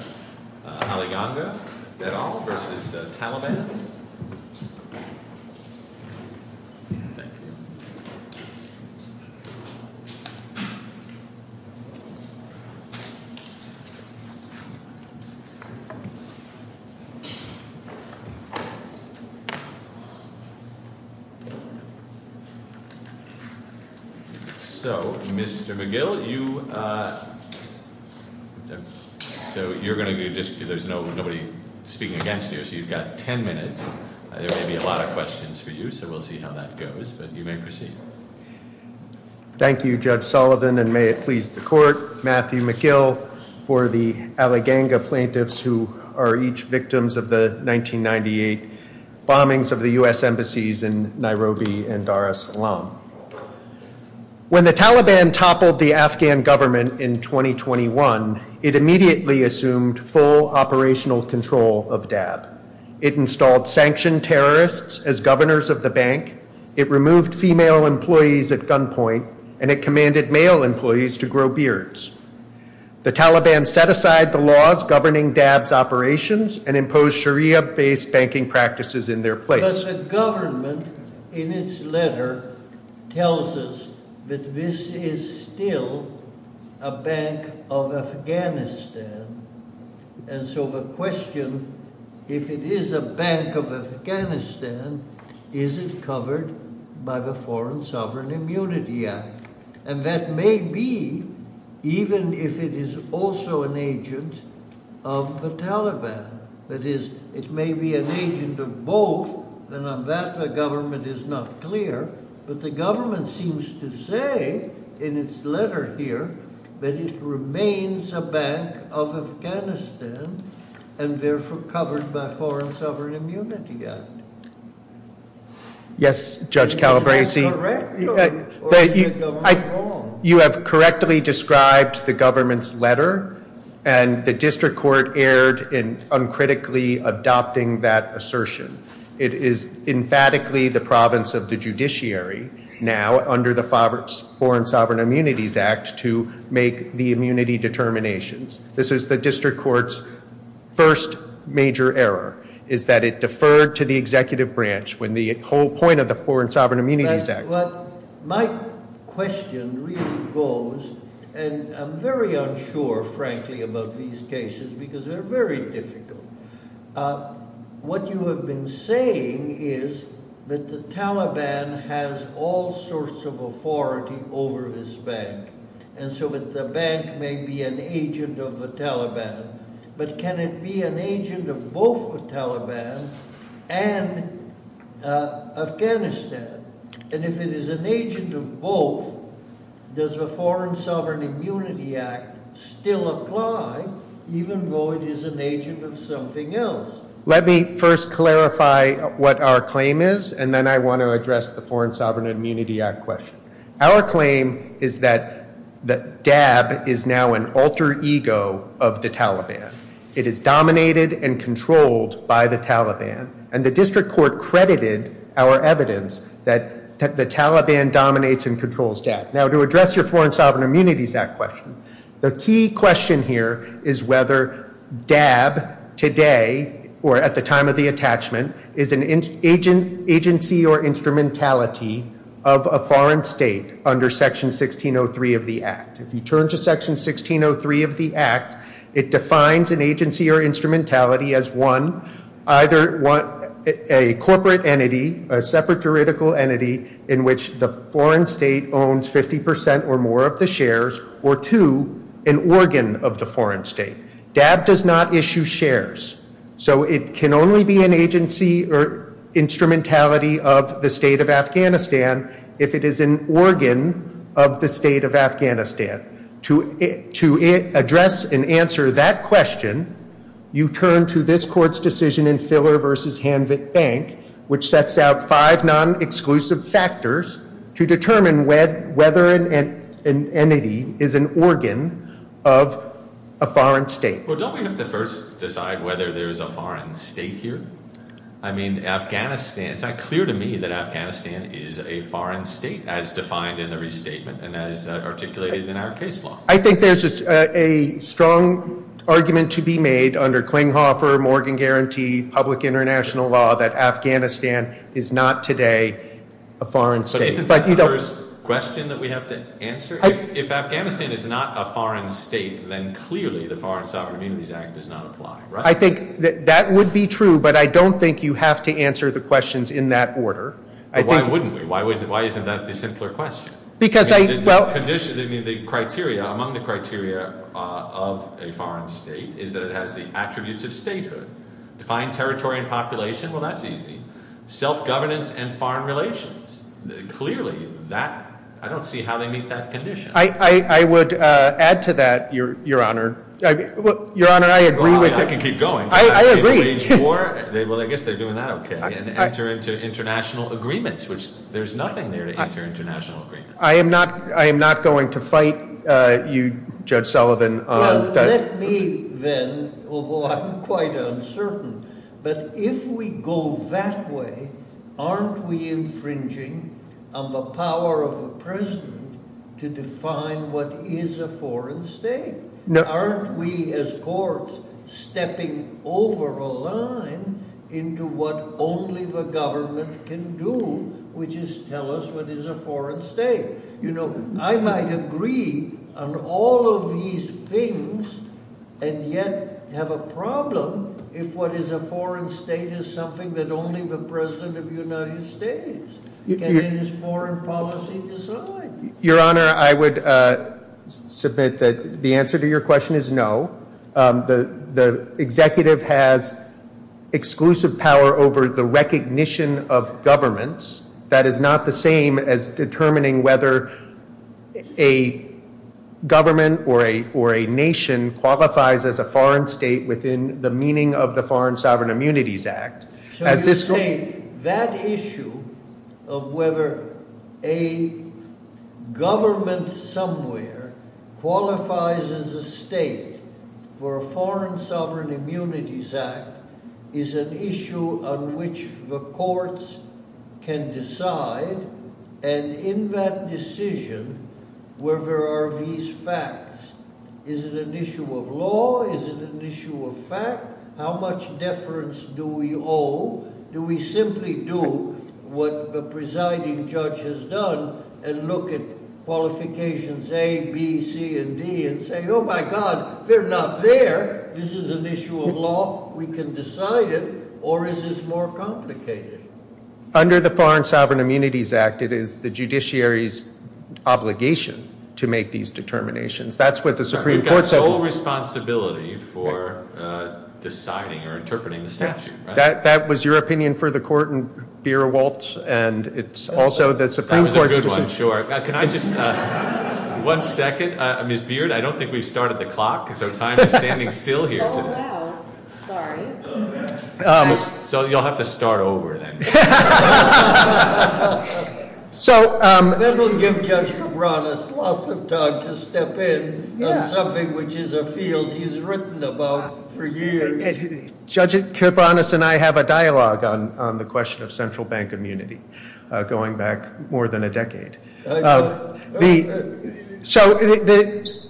Thank you. Thank you. So Mr. McGill, you – so you're going to be just – there's nobody speaking against you, so you've got 10 minutes. There may be a lot of questions for you, so we'll see how that goes, but you may proceed. Thank you, Judge Sullivan, and may it please the Court, Matthew McGill, for the Aliganga plaintiffs who are each victims of the 1998 bombings of the U.S. embassies in Nairobi and Dar es Salaam. When the Taliban toppled the Afghan government in 2021, it immediately assumed full operational control of D.A.B. It installed sanctioned terrorists as governors of the bank, it removed female employees at gunpoint, and it commanded male employees to grow beards. The Taliban set aside the laws governing D.A.B.'s operations and imposed Sharia-based banking practices in their place. But the government, in its letter, tells us that this is still a bank of Afghanistan, and so the question, if it is a bank of Afghanistan, is it covered by the Foreign Sovereign Immunity Act? And that may be, even if it is also an agent of the Taliban. That is, it may be an agent of both, and on that the government is not clear, but the government seems to say, in its letter here, that it remains a bank of Afghanistan, and therefore covered by the Foreign Sovereign Immunity Act. Yes, Judge Calabresi, you have correctly described the government's letter, and the district court erred in uncritically adopting that assertion. It is emphatically the province of the judiciary now, under the Foreign Sovereign Immunities Act, to make the immunity determinations. This is the district court's first major error, is that it deferred to the executive branch when the whole point of the Foreign Sovereign Immunities Act... My question really goes, and I'm very unsure, frankly, about these cases, because they're very difficult. What you have been saying is that the Taliban has all sorts of authority over this bank, and so that the bank may be an agent of the Taliban, but can it be an agent of both the Taliban and Afghanistan? And if it is an agent of both, does the Foreign Sovereign Immunities Act say that the Taliban is an agent of something else? Let me first clarify what our claim is, and then I want to address the Foreign Sovereign Immunity Act question. Our claim is that DAB is now an alter ego of the Taliban. It is dominated and controlled by the Taliban, and the district court credited our evidence that the Taliban dominates and controls DAB. Now, to address your Foreign Sovereign Immunities Act question, the key question here is whether DAB today, or at the time of the attachment, is an agency or instrumentality of a foreign state under Section 1603 of the Act. If you turn to Section 1603 of the Act, it defines an agency or instrumentality as one, either a corporate entity, a separate juridical entity in which the foreign state owns 50% or more of the shares, or two, an organ of the foreign state. DAB does not issue shares, so it can only be an agency or instrumentality of the state of Afghanistan if it is an organ of the state of Afghanistan. To address and answer that question, you turn to this Court's decision in Filler v. Hanvit Bank, which sets out five non-exclusive factors to determine whether an entity is an organ of a foreign state. Well, don't we have to first decide whether there's a foreign state here? I mean, Afghanistan, it's not clear to me that Afghanistan is a foreign state as defined in the restatement and as articulated in our case law. I think there's a strong argument to be made under Klinghoffer-Morgan Guarantee public international law that Afghanistan is not today a foreign state. But isn't the first question that we have to answer? If Afghanistan is not a foreign state, then clearly the Foreign Sovereign Immunities Act does not apply, right? I think that would be true, but I don't think you have to answer the questions in that order. Why wouldn't we? Why isn't that the simpler question? The criteria, among the criteria of a foreign state is that it has the attributes of statehood. Defined territory and population, well, that's easy. Self-governance and foreign relations, clearly that, I don't see how they meet that condition. I would add to that, Your Honor. Your Honor, I agree with that. Well, I can keep going. I agree. Well, I guess they're doing that okay, and enter into international agreements, which there's nothing there to enter international agreements. I am not going to fight you, Judge Sullivan, on that. Well, let me then, although I'm quite uncertain, but if we go that way, aren't we infringing on the power of a president to define what is a foreign state? Aren't we, as courts, stepping over a line into what only the government can do, which is tell us what is a foreign state? I might agree on all of these things, and yet have a problem if what is a foreign state is something that only the President of the United States can in his foreign policy decide. Your Honor, I would submit that the answer to your question is no. The executive has exclusive power over the recognition of governments. That is not the same as determining whether a government or a nation qualifies as a foreign state within the meaning of the Foreign Sovereign Immunities Act. So you're saying that issue of whether a government somewhere qualifies as a state for a Foreign Sovereign Immunities Act is an issue on which the courts can decide, and in that decision, where there are these facts, is it an issue of law? Is it an issue of fact? How much deference do we owe? Do we simply do what the presiding judge has done and look at qualifications A, B, C, and D and say, oh my God, they're not there. This is an issue of law. We can decide it, or is this more complicated? Under the Foreign Sovereign Immunities Act, it is the judiciary's obligation to make these determinations. That's what the Supreme Court said. We've got sole responsibility for deciding or interpreting the statute, right? That was your opinion for the court in Beerewalt, and it's also the Supreme Court's decision. That was a good one, sure. Can I just... One second. Ms. Beard, I don't think we've started the clock, so time is standing still here. Oh, wow. Sorry. So you'll have to start over then. That will give Judge Kibranus lots of time to step in on something which is a field he's written about for years. Judge Kibranus and I have a dialogue on the question of central bank immunity going back more than a decade. So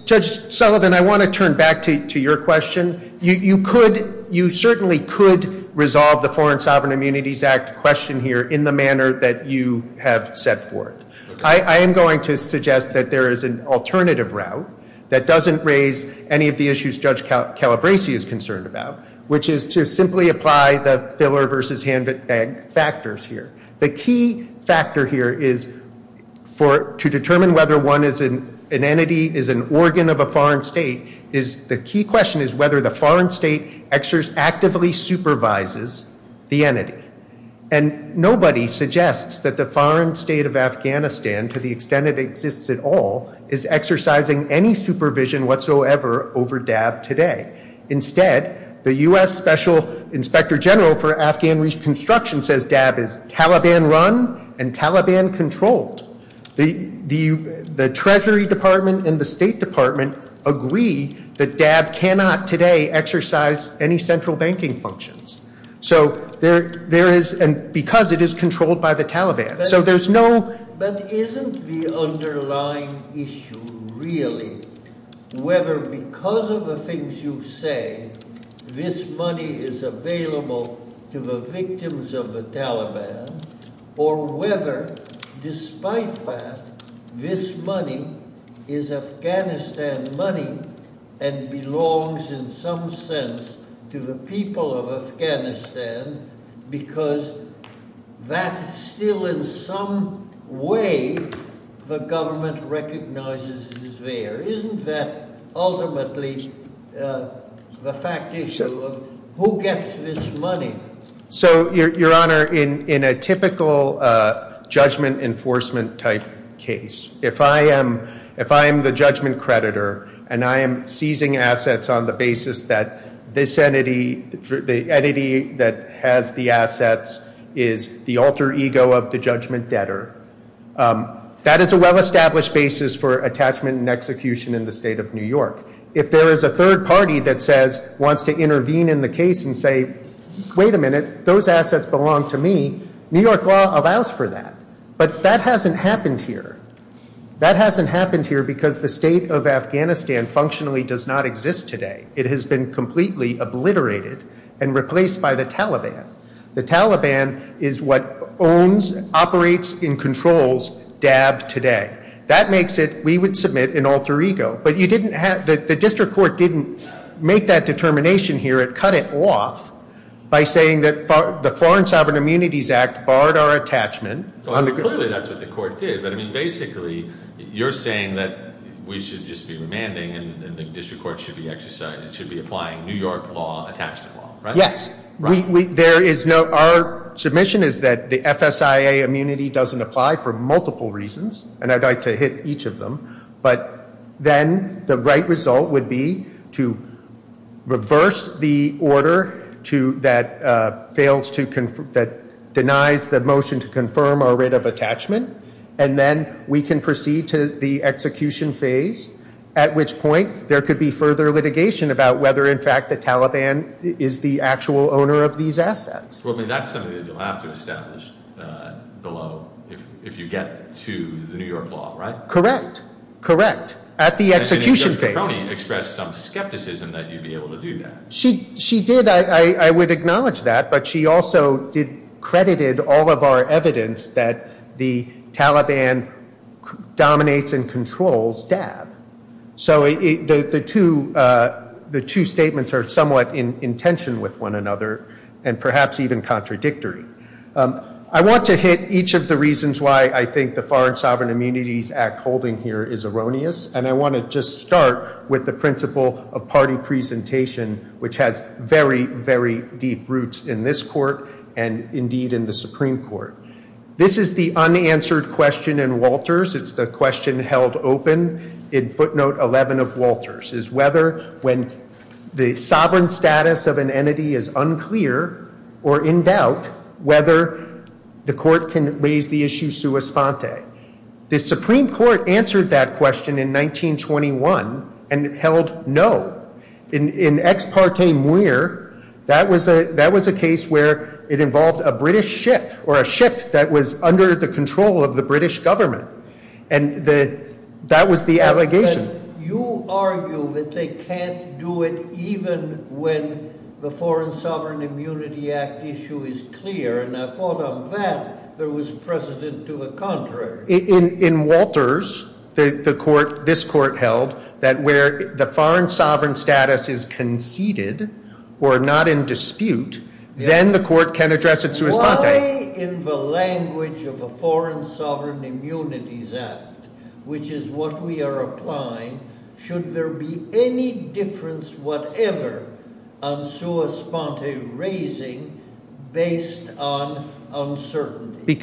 Judge Sullivan, I want to turn back to your question. You certainly could resolve the Foreign Sovereign Immunities Act question here in the manner that you have set forth. I am going to suggest that there is an alternative route that doesn't raise any of the issues Judge Calabresi is concerned about, which is to simply apply the filler versus handbag factors here. The key factor here is to determine whether one is an entity, is an organ of a foreign state, the key question is whether the foreign state actively supervises the entity. And nobody suggests that the foreign state of Afghanistan, to the extent it exists at all, is exercising any supervision whatsoever over DAB today. Instead, the U.S. Special Inspector General for Afghan Reconstruction says DAB is Taliban run and Taliban controlled. The Treasury Department and the State Department agree that DAB cannot today exercise any central banking functions. So there is, and because it is controlled by the Taliban. But isn't the underlying issue really whether because of the things you say, this money is available to the victims of the Taliban, or whether despite that, this money is Afghanistan money and belongs in some sense to the people of Afghanistan, because that is still in some way the government recognizes is there. Isn't that ultimately the fact issue of who gets this money? So your honor, in a typical judgment enforcement type case, if I am the judgment creditor and I am seizing assets on the basis that this entity, the entity that has the assets is the alter ego of the judgment debtor, that is a well established basis for attachment and execution in the state of New York. If there is a third party that says, wants to intervene in the case and say, wait a minute, those assets belong to me, New York law allows for that. But that hasn't happened here. That hasn't happened here because the state of Afghanistan functionally does not exist today. It has been completely obliterated and replaced by the Taliban. The Taliban is what owns, operates and controls DAB today. That makes it, we would submit, an alter ego. But you didn't have, the district court didn't make that determination here. It cut it off by saying that the Foreign Sovereign Immunities Act barred our attachment. Clearly that's what the court did, but I mean basically you're saying that we should just be remanding and the district court should be exercising, should be applying New York law attachment law, right? Yes. There is no, our submission is that the FSIA immunity doesn't apply for multiple reasons and I'd like to hit each of them, but then the right result would be to reverse the order to, that fails to, that denies the motion to confirm our writ of attachment and then we can proceed to the execution phase at which point there could be further litigation about whether in fact the Taliban is the actual owner of these assets. Well I mean that's something that you'll have to establish below if you get to the New York law, right? Correct. Correct. At the execution phase. And Judge Perconi expressed some skepticism that you'd be able to do that. She did, I would acknowledge that, but she also credited all of our evidence that the Taliban dominates and controls DAB. So the two statements are somewhat in tension with one another and perhaps even contradictory. I want to hit each of the reasons why I think the Foreign Sovereign Immunities Act holding here is erroneous and I want to just start with the principle of party presentation which has very, very deep roots in this court and indeed in the Supreme Court. This is the unanswered question in Walters. It's the question held open in footnote 11 of Walters, is whether when the sovereign status of an entity is unclear or in doubt whether the court can raise the issue sua sponte. The Supreme Court answered that question in 1921 and held no. In Ex parte Muir, that was a case where it involved a British ship or a ship that was under the control of the British government and that was the allegation. You argue that they can't do it even when the Foreign Sovereign Immunity Act issue is clear and I thought on that there was precedent to the contrary. In Walters, this court held that where the foreign sovereign status is conceded or not in dispute, then the court can address it sua sponte. Why in the language of a Foreign Sovereign Immunity Act, which is what we are applying, should there be any difference whatever on sua sponte raising based on uncertainty?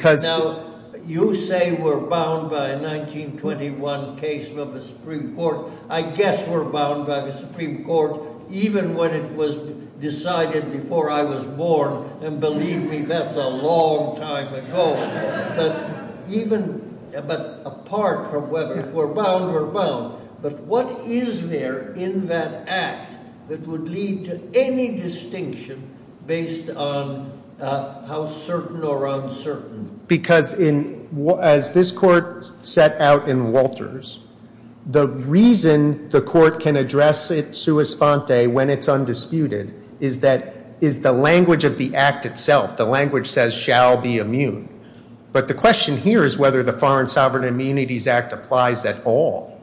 You say we're bound by 1921 case of the Supreme Court. I guess we're bound by the Supreme Court a long time ago. But apart from whether we're bound, we're bound. But what is there in that act that would lead to any distinction based on how certain or uncertain? Because as this court set out in Walters, the reason the court can address it sua sponte when it's undisputed is the language of the act itself. The language says shall be immune. But the question here is whether the Foreign Sovereign Immunities Act applies at all.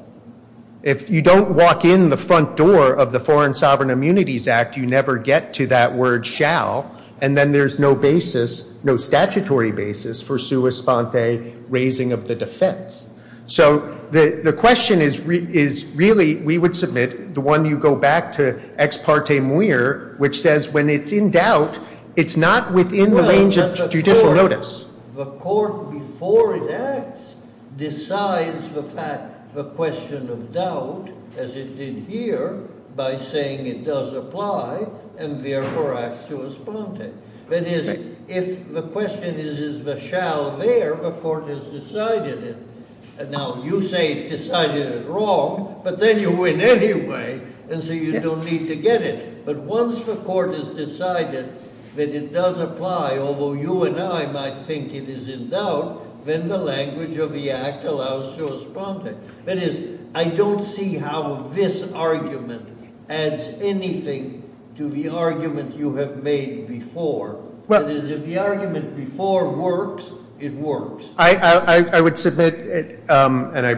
If you don't walk in the front door of the Foreign Sovereign Immunities Act, you never get to that word shall and then there's no basis, no statutory basis for sua sponte raising of the defense. So the question is really, we would submit, the one you go back to ex parte muire, which says when it's in doubt, it's not within the range of judicial notice. The court before it acts decides the question of doubt as it did here by saying it does apply and therefore acts sua sponte. That is, if the question is, is the shall there, the court has decided it. Now, you say decided it wrong, but then you win anyway and so you don't need to get it. But once the court has decided that it does apply, although you and I might think it is in doubt, then the language of the act allows sua sponte. That is, I don't see how this argument adds anything to the argument you have made before. That is, if the argument before works, it works. I would submit, and I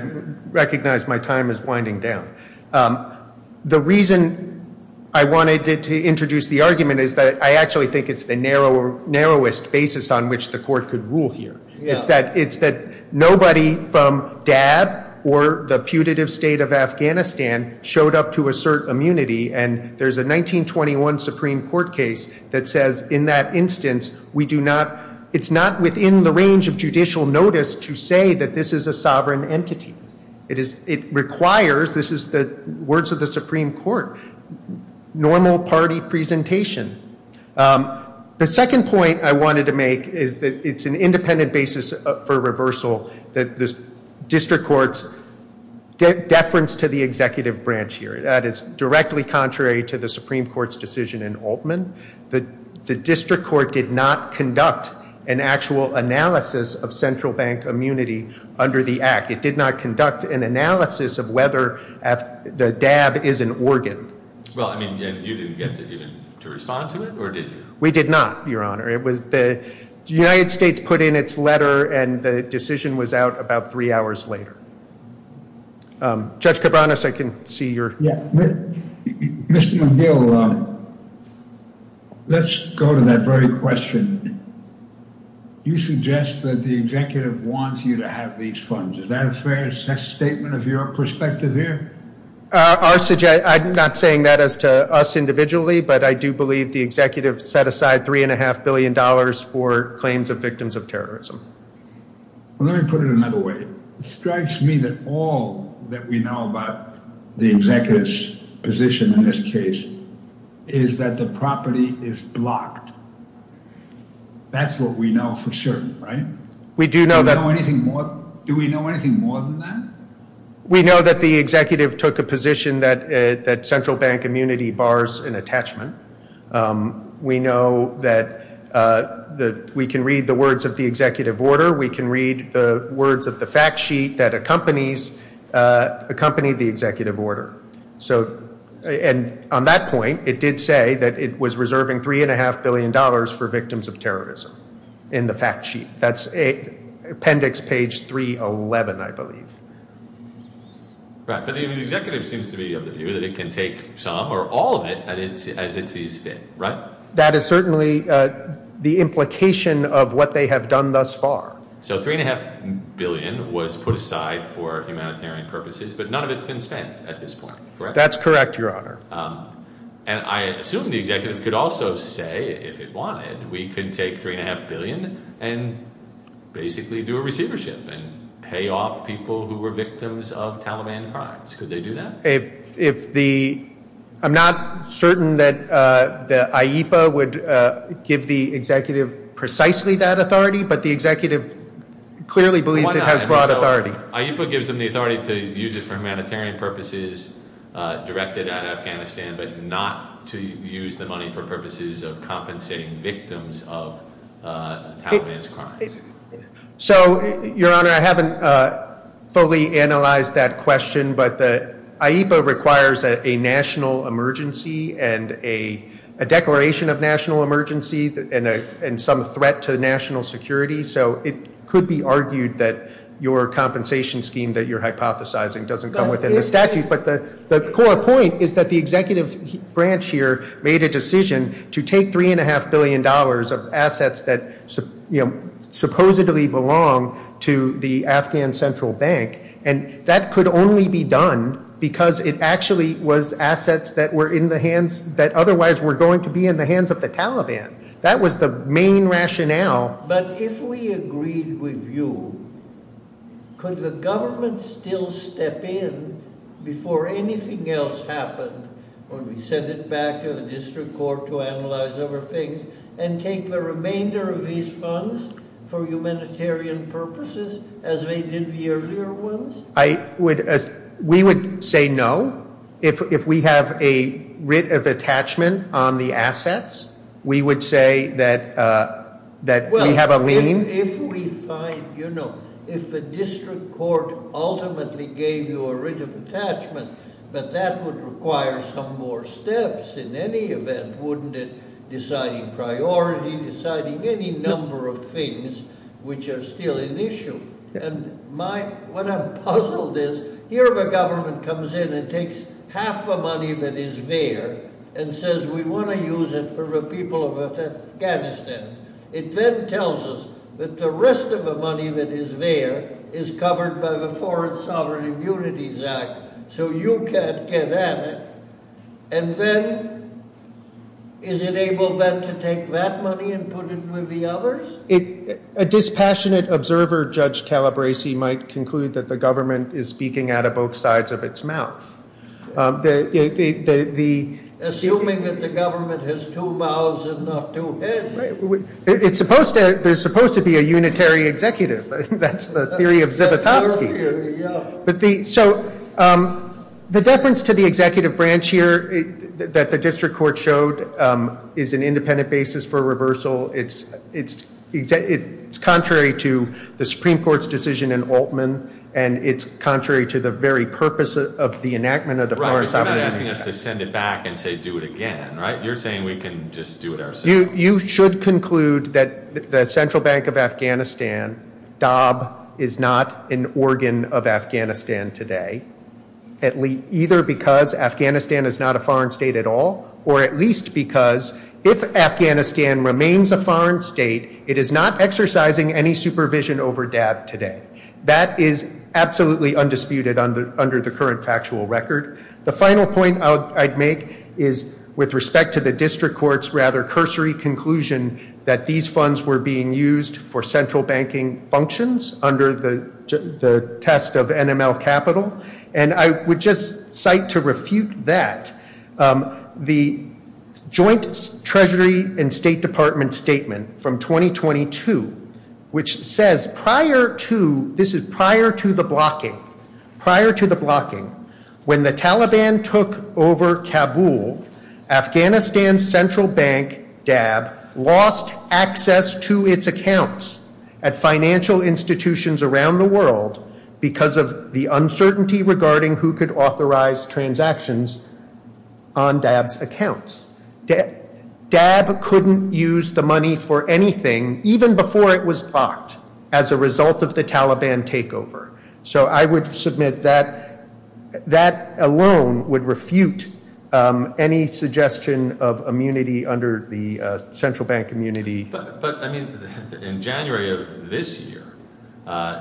recognize my time is winding down, the reason I wanted to introduce the argument is that I actually think it's the narrowest basis on which the court could rule here. It's that nobody from Dab or the putative state of Afghanistan showed up to do not, it's not within the range of judicial notice to say that this is a sovereign entity. It is, it requires, this is the words of the Supreme Court, normal party presentation. The second point I wanted to make is that it's an independent basis for reversal that the district court's deference to the executive branch here. That is directly contrary to the Supreme Court's decision in Altman. The district court did not conduct an actual analysis of central bank immunity under the act. It did not conduct an analysis of whether the Dab is an organ. Well, I mean, you didn't get to even respond to it, or did you? We did not, Your Honor. It was the, the United States put in its letter and the decision was out about three hours later. Judge Cabranes, I can see you're Mr. McGill, let's go to that very question. You suggest that the executive wants you to have these funds. Is that a fair statement of your perspective here? I'm not saying that as to us individually, but I do believe the executive set aside three and a half billion dollars for claims of victims of terrorism. Let me put it another way. It strikes me that all that we know about the executive's position in this case is that the property is blocked. That's what we know for certain, right? We do know that. Do we know anything more than that? We know that the executive took a position that central bank immunity bars an attachment. We know that we can read the words of the executive order. We can read the words of the fact sheet that accompanies, accompanied the executive order. So, and on that point, it did say that it was reserving three and a half billion dollars for victims of terrorism in the fact sheet. That's appendix page 311, I believe. Right. But the executive seems to be of the view that it can take some or all of it as it sees fit, right? That is certainly the implication of what they have done thus far. So three and a half billion was put aside for humanitarian purposes, but none of it's been spent at this point, correct? That's correct, your honor. And I assume the executive could also say, if it wanted, we can take three and a half billion and basically do a receivership and pay off people who were victims of Taliban crimes. Could they do that? If the, I'm not certain that the IEPA would give the executive precisely that authority, but the executive clearly believes it has broad authority. IEPA gives them the authority to use it for humanitarian purposes directed at Afghanistan, but not to use the money for purposes of compensating victims of Taliban's crimes. So, your honor, I haven't fully analyzed that question, but the IEPA requires a national emergency and a declaration of national emergency and some threat to national security. So it could be argued that your compensation scheme that you're hypothesizing doesn't come within the statute. But the core point is that the executive branch here made a decision to take three and a half billion dollars of assets that supposedly belong to the Afghan Central Bank, and that could only be done because it actually was assets that were in the hands, that otherwise were going to be in the hands of the Taliban. That was the main rationale. But if we agreed with you, could the government still step in before anything else happened when we send it back to the district court to analyze other things and take the remainder of these funds for humanitarian purposes as they did the earlier ones? We would say no. If we have a writ of attachment on the assets, we would say that we have a lien. Well, if we find, you know, if the district court ultimately gave you a writ of attachment, but that would require some more steps in any event, wouldn't it? Deciding priority, deciding any number of things which are still an issue. What I'm puzzled is, here the government comes in and takes half the money that is there and says we want to use it for the people of Afghanistan. It then tells us that the rest of the money that is there is covered by the Foreign Sovereign Immunities Act, so you can't get at it. And then, is it able then to take that money and put it with the others? A dispassionate observer, Judge Calabresi, might conclude that the government is speaking out of both sides of its mouth. Assuming that the government has two mouths and not two heads. It's supposed to, there's supposed to be a unitary executive. That's the theory of Zivotofsky. So, the deference to the executive branch here that the district court showed is an independent basis for reversal. It's contrary to the Supreme Court's decision in Altman, and it's contrary to the very purpose of the enactment of the Foreign Sovereign Immunities Act. Right, but you're not asking us to send it back and say do it again, right? You're saying we can just do it ourselves. You should conclude that the Central Bank of Afghanistan, DAB, is not an organ of Afghanistan today, either because Afghanistan is not a foreign state at all, or at least because if Afghanistan remains a foreign state, it is not exercising any supervision over DAB today. That is absolutely undisputed under the current factual record. The final point I'd make is with respect to the district court's rather cursory conclusion that these funds were being used for central banking functions under the test of NML capital, and I would just cite to refute that the Joint Treasury and State Department statement from 2022, which says prior to, this is prior to the blocking, prior to the blocking, when the Taliban took over Kabul, Afghanistan's central bank, DAB, lost access to its accounts at financial institutions around the world because of the uncertainty regarding who could authorize transactions on DAB's accounts. DAB couldn't use the money for anything even before it was blocked as a result of the Taliban takeover. So I would submit that that alone would refute any suggestion of immunity under the central bank immunity. But I mean, in January of this year,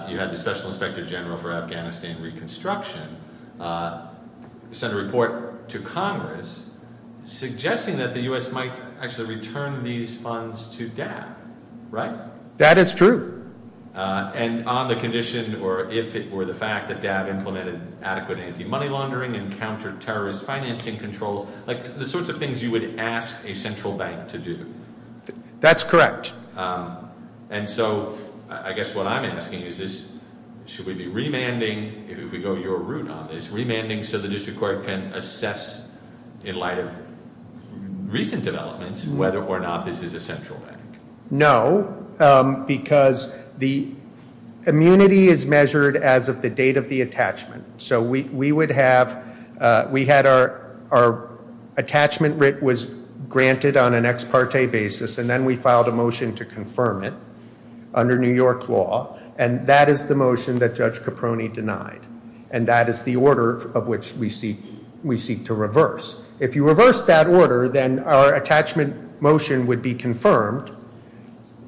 you had the Special Inspector General for Afghanistan suggesting that the U.S. might actually return these funds to DAB, right? That is true. And on the condition or if it were the fact that DAB implemented adequate anti-money laundering and counter terrorist financing controls, like the sorts of things you would ask a central bank to do. That's correct. And so I guess what I'm asking is this, should we be remanding, if we go your route on this, should we be remanding so the district court can assess in light of recent developments whether or not this is a central bank? No, because the immunity is measured as of the date of the attachment. So we would have, we had our attachment writ was granted on an ex parte basis and then we filed a motion to confirm it under New York law. And that is the motion that Judge Caproni denied. And that is the order of which we seek to reverse. If you reverse that order, then our attachment motion would be confirmed.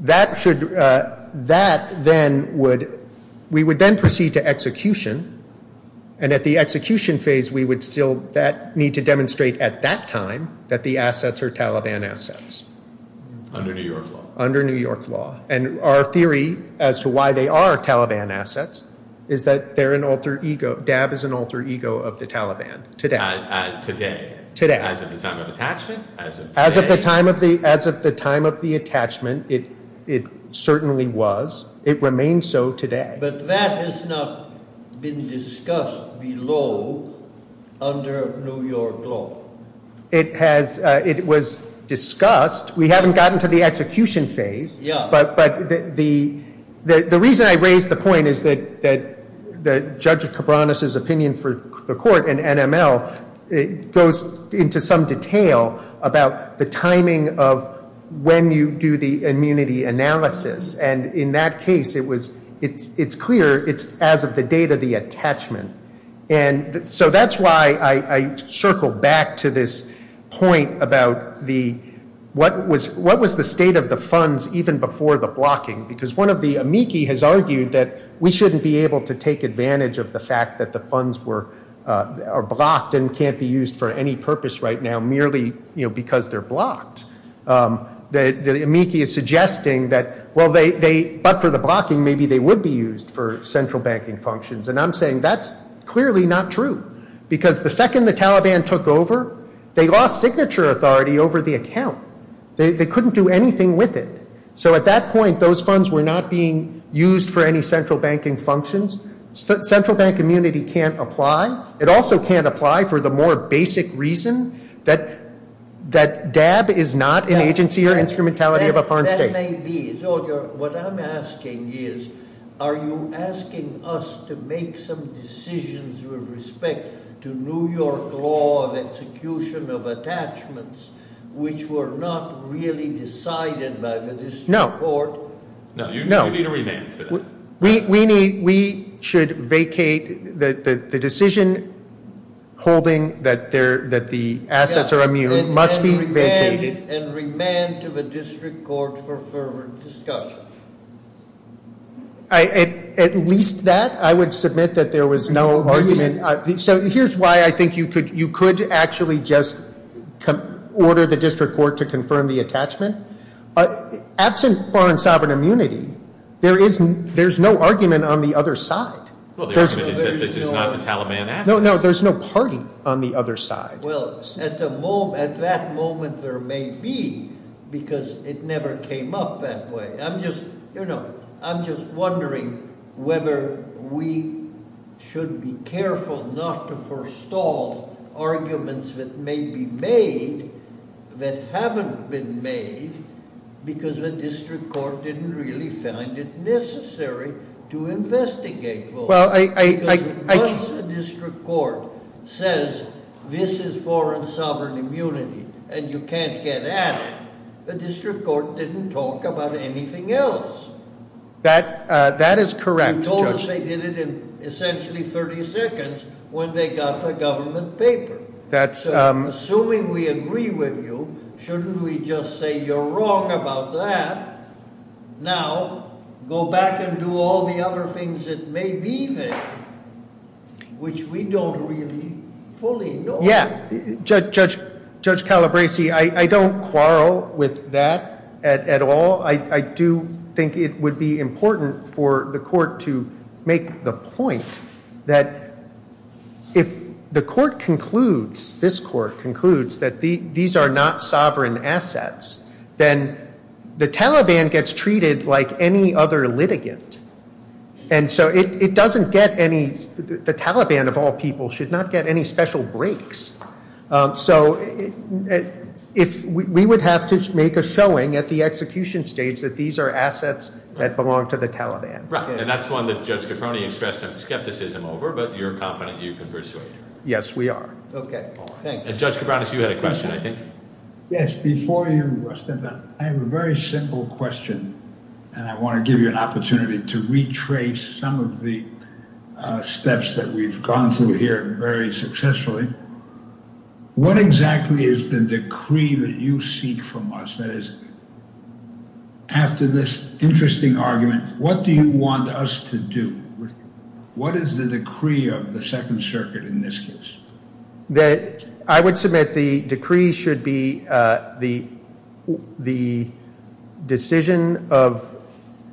That should, that then would, we would then proceed to execution. And at the execution phase, we would still need to demonstrate at that time that the assets are Taliban assets. Under New York law. Under New York law. And our theory as to why they are Taliban assets is that they're an alter ego. DAB is an alter ego of the Taliban. Today. Today. As of the time of attachment? As of the time of the attachment, it certainly was. It remains so today. But that has not been discussed below under New York law. It has, it was discussed. We haven't gotten to the execution phase. But the reason I raised the point is that Judge Caproni's opinion for the court and NML goes into some detail about the timing of when you do the immunity analysis. And in that case, it was, it's clear it's as of the date of the attachment. And so that's why I circled back to this point about the, what was the state of the funds even before the blocking? Because one of the amici has argued that we shouldn't be able to take advantage of the fact that the funds were, are blocked and can't be used for any purpose right now, merely because they're blocked. The amici is suggesting that, well, they, but for the blocking, maybe they would be used for central banking functions. And I'm saying that's clearly not true, because the second the Taliban took over, they lost signature authority over the account. They couldn't do anything with it. So at that point, those funds were not being used for any central banking functions. Central bank immunity can't apply. It also can't apply for the more basic reason that DAB is not an agency or instrumentality of a foreign state. What I'm asking is, are you asking us to make some decisions with respect to New York law of execution of attachments which were not really decided by the district court? No, you need a remand for that. We need, we should vacate the decision holding that the assets are immune must be vacated. And remand to the district court for further discussion. At least that, I would submit that there was no argument. So here's why I think you could actually just order the district court to confirm the attachment. Absent foreign sovereign immunity, there's no argument on the other side. Well, the argument is that this is not the Taliban assets. No, no, there's no party on the other side. Well, at that moment there may be because it never came up that way. I'm just wondering whether we should be careful not to forestall arguments that may be made that haven't been made because the district court didn't really find it necessary to investigate. Well, I... Because once the district court says this is foreign sovereign immunity and you can't get at it, the district court didn't talk about anything else. That is correct, Judge. They did it in essentially 30 seconds when they got the government paper. That's... Assuming we agree with you, shouldn't we just say you're wrong about that? Now, go back and do all the other things that may be there, which we don't really fully know. Judge Calabresi, I don't quarrel with that at all. I do think it would be important for the court to make the point that if the court concludes, this court concludes, that these are not sovereign assets, then the Taliban gets treated like any other litigant. And so it doesn't get any... The Taliban of all people should not get any special breaks. So if we would have to make a showing at the execution stage that these are assets that belong to the Taliban. Right, and that's one that Judge Caproni expressed some skepticism over, but you're confident you can persuade? Yes, we are. Okay. Judge Caproni, you had a question, I think. Yes, before you, I have a very simple question. And I want to give you an opportunity to retrace some of the steps that we've gone through here very successfully. What exactly is the decree that you seek from us? That is, after this interesting argument, what do you want us to do? What is the decree of the Second Circuit in this case? I would submit the decree should be the decision of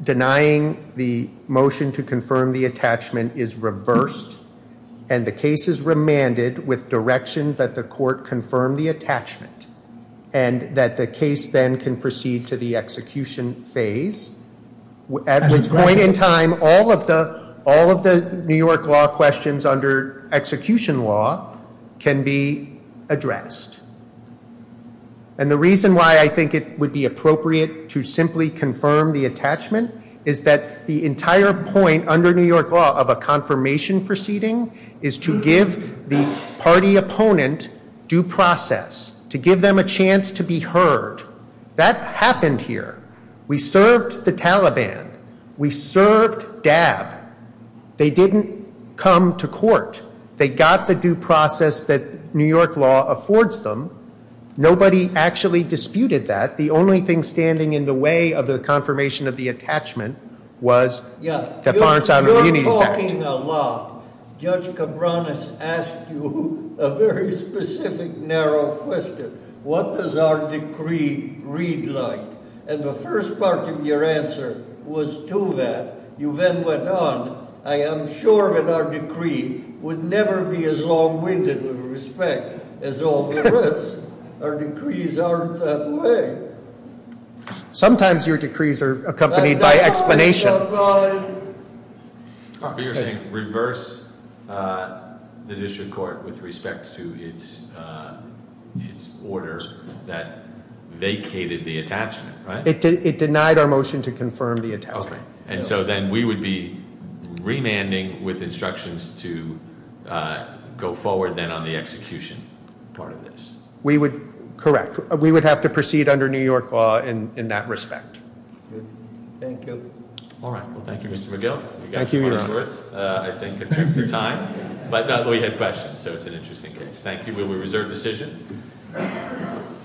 denying the motion to confirm the attachment is reversed. And the case is remanded with direction that the court confirm the attachment. And that the case then can proceed to the execution phase. At which point in time, all of the New York law questions under execution law can be addressed. And the reason why I think it would be appropriate to simply confirm the attachment is that the entire point under New York law of a confirmation proceeding is to give the party opponent due process. To give them a chance to be heard. That happened here. We served the Taliban. We served DAB. They didn't come to court. They got the due process that New York law affords them. Nobody actually disputed that. The only thing standing in the way of the confirmation of the attachment was the Foreign Settlement Reunions Act. You're talking a lot. Judge Cabranes asked you a very specific, narrow question. What does our decree read like? And the first part of your answer was to that. You then went on. I am sure that our decree would never be as long-winded with respect as all the rest. Our decrees aren't that way. Sometimes your decrees are accompanied by explanation. You're saying reverse the district court with respect to its order that vacated the attachment, right? It denied our motion to confirm the attachment. And so then we would be remanding with instructions to go forward then on the execution part of this. Correct. We would have to proceed under New York law in that respect. Thank you. All right. Well, thank you, Mr. McGill. Thank you, Your Honor. I think in terms of time. But we had questions, so it's an interesting case. Thank you. Will we reserve decision?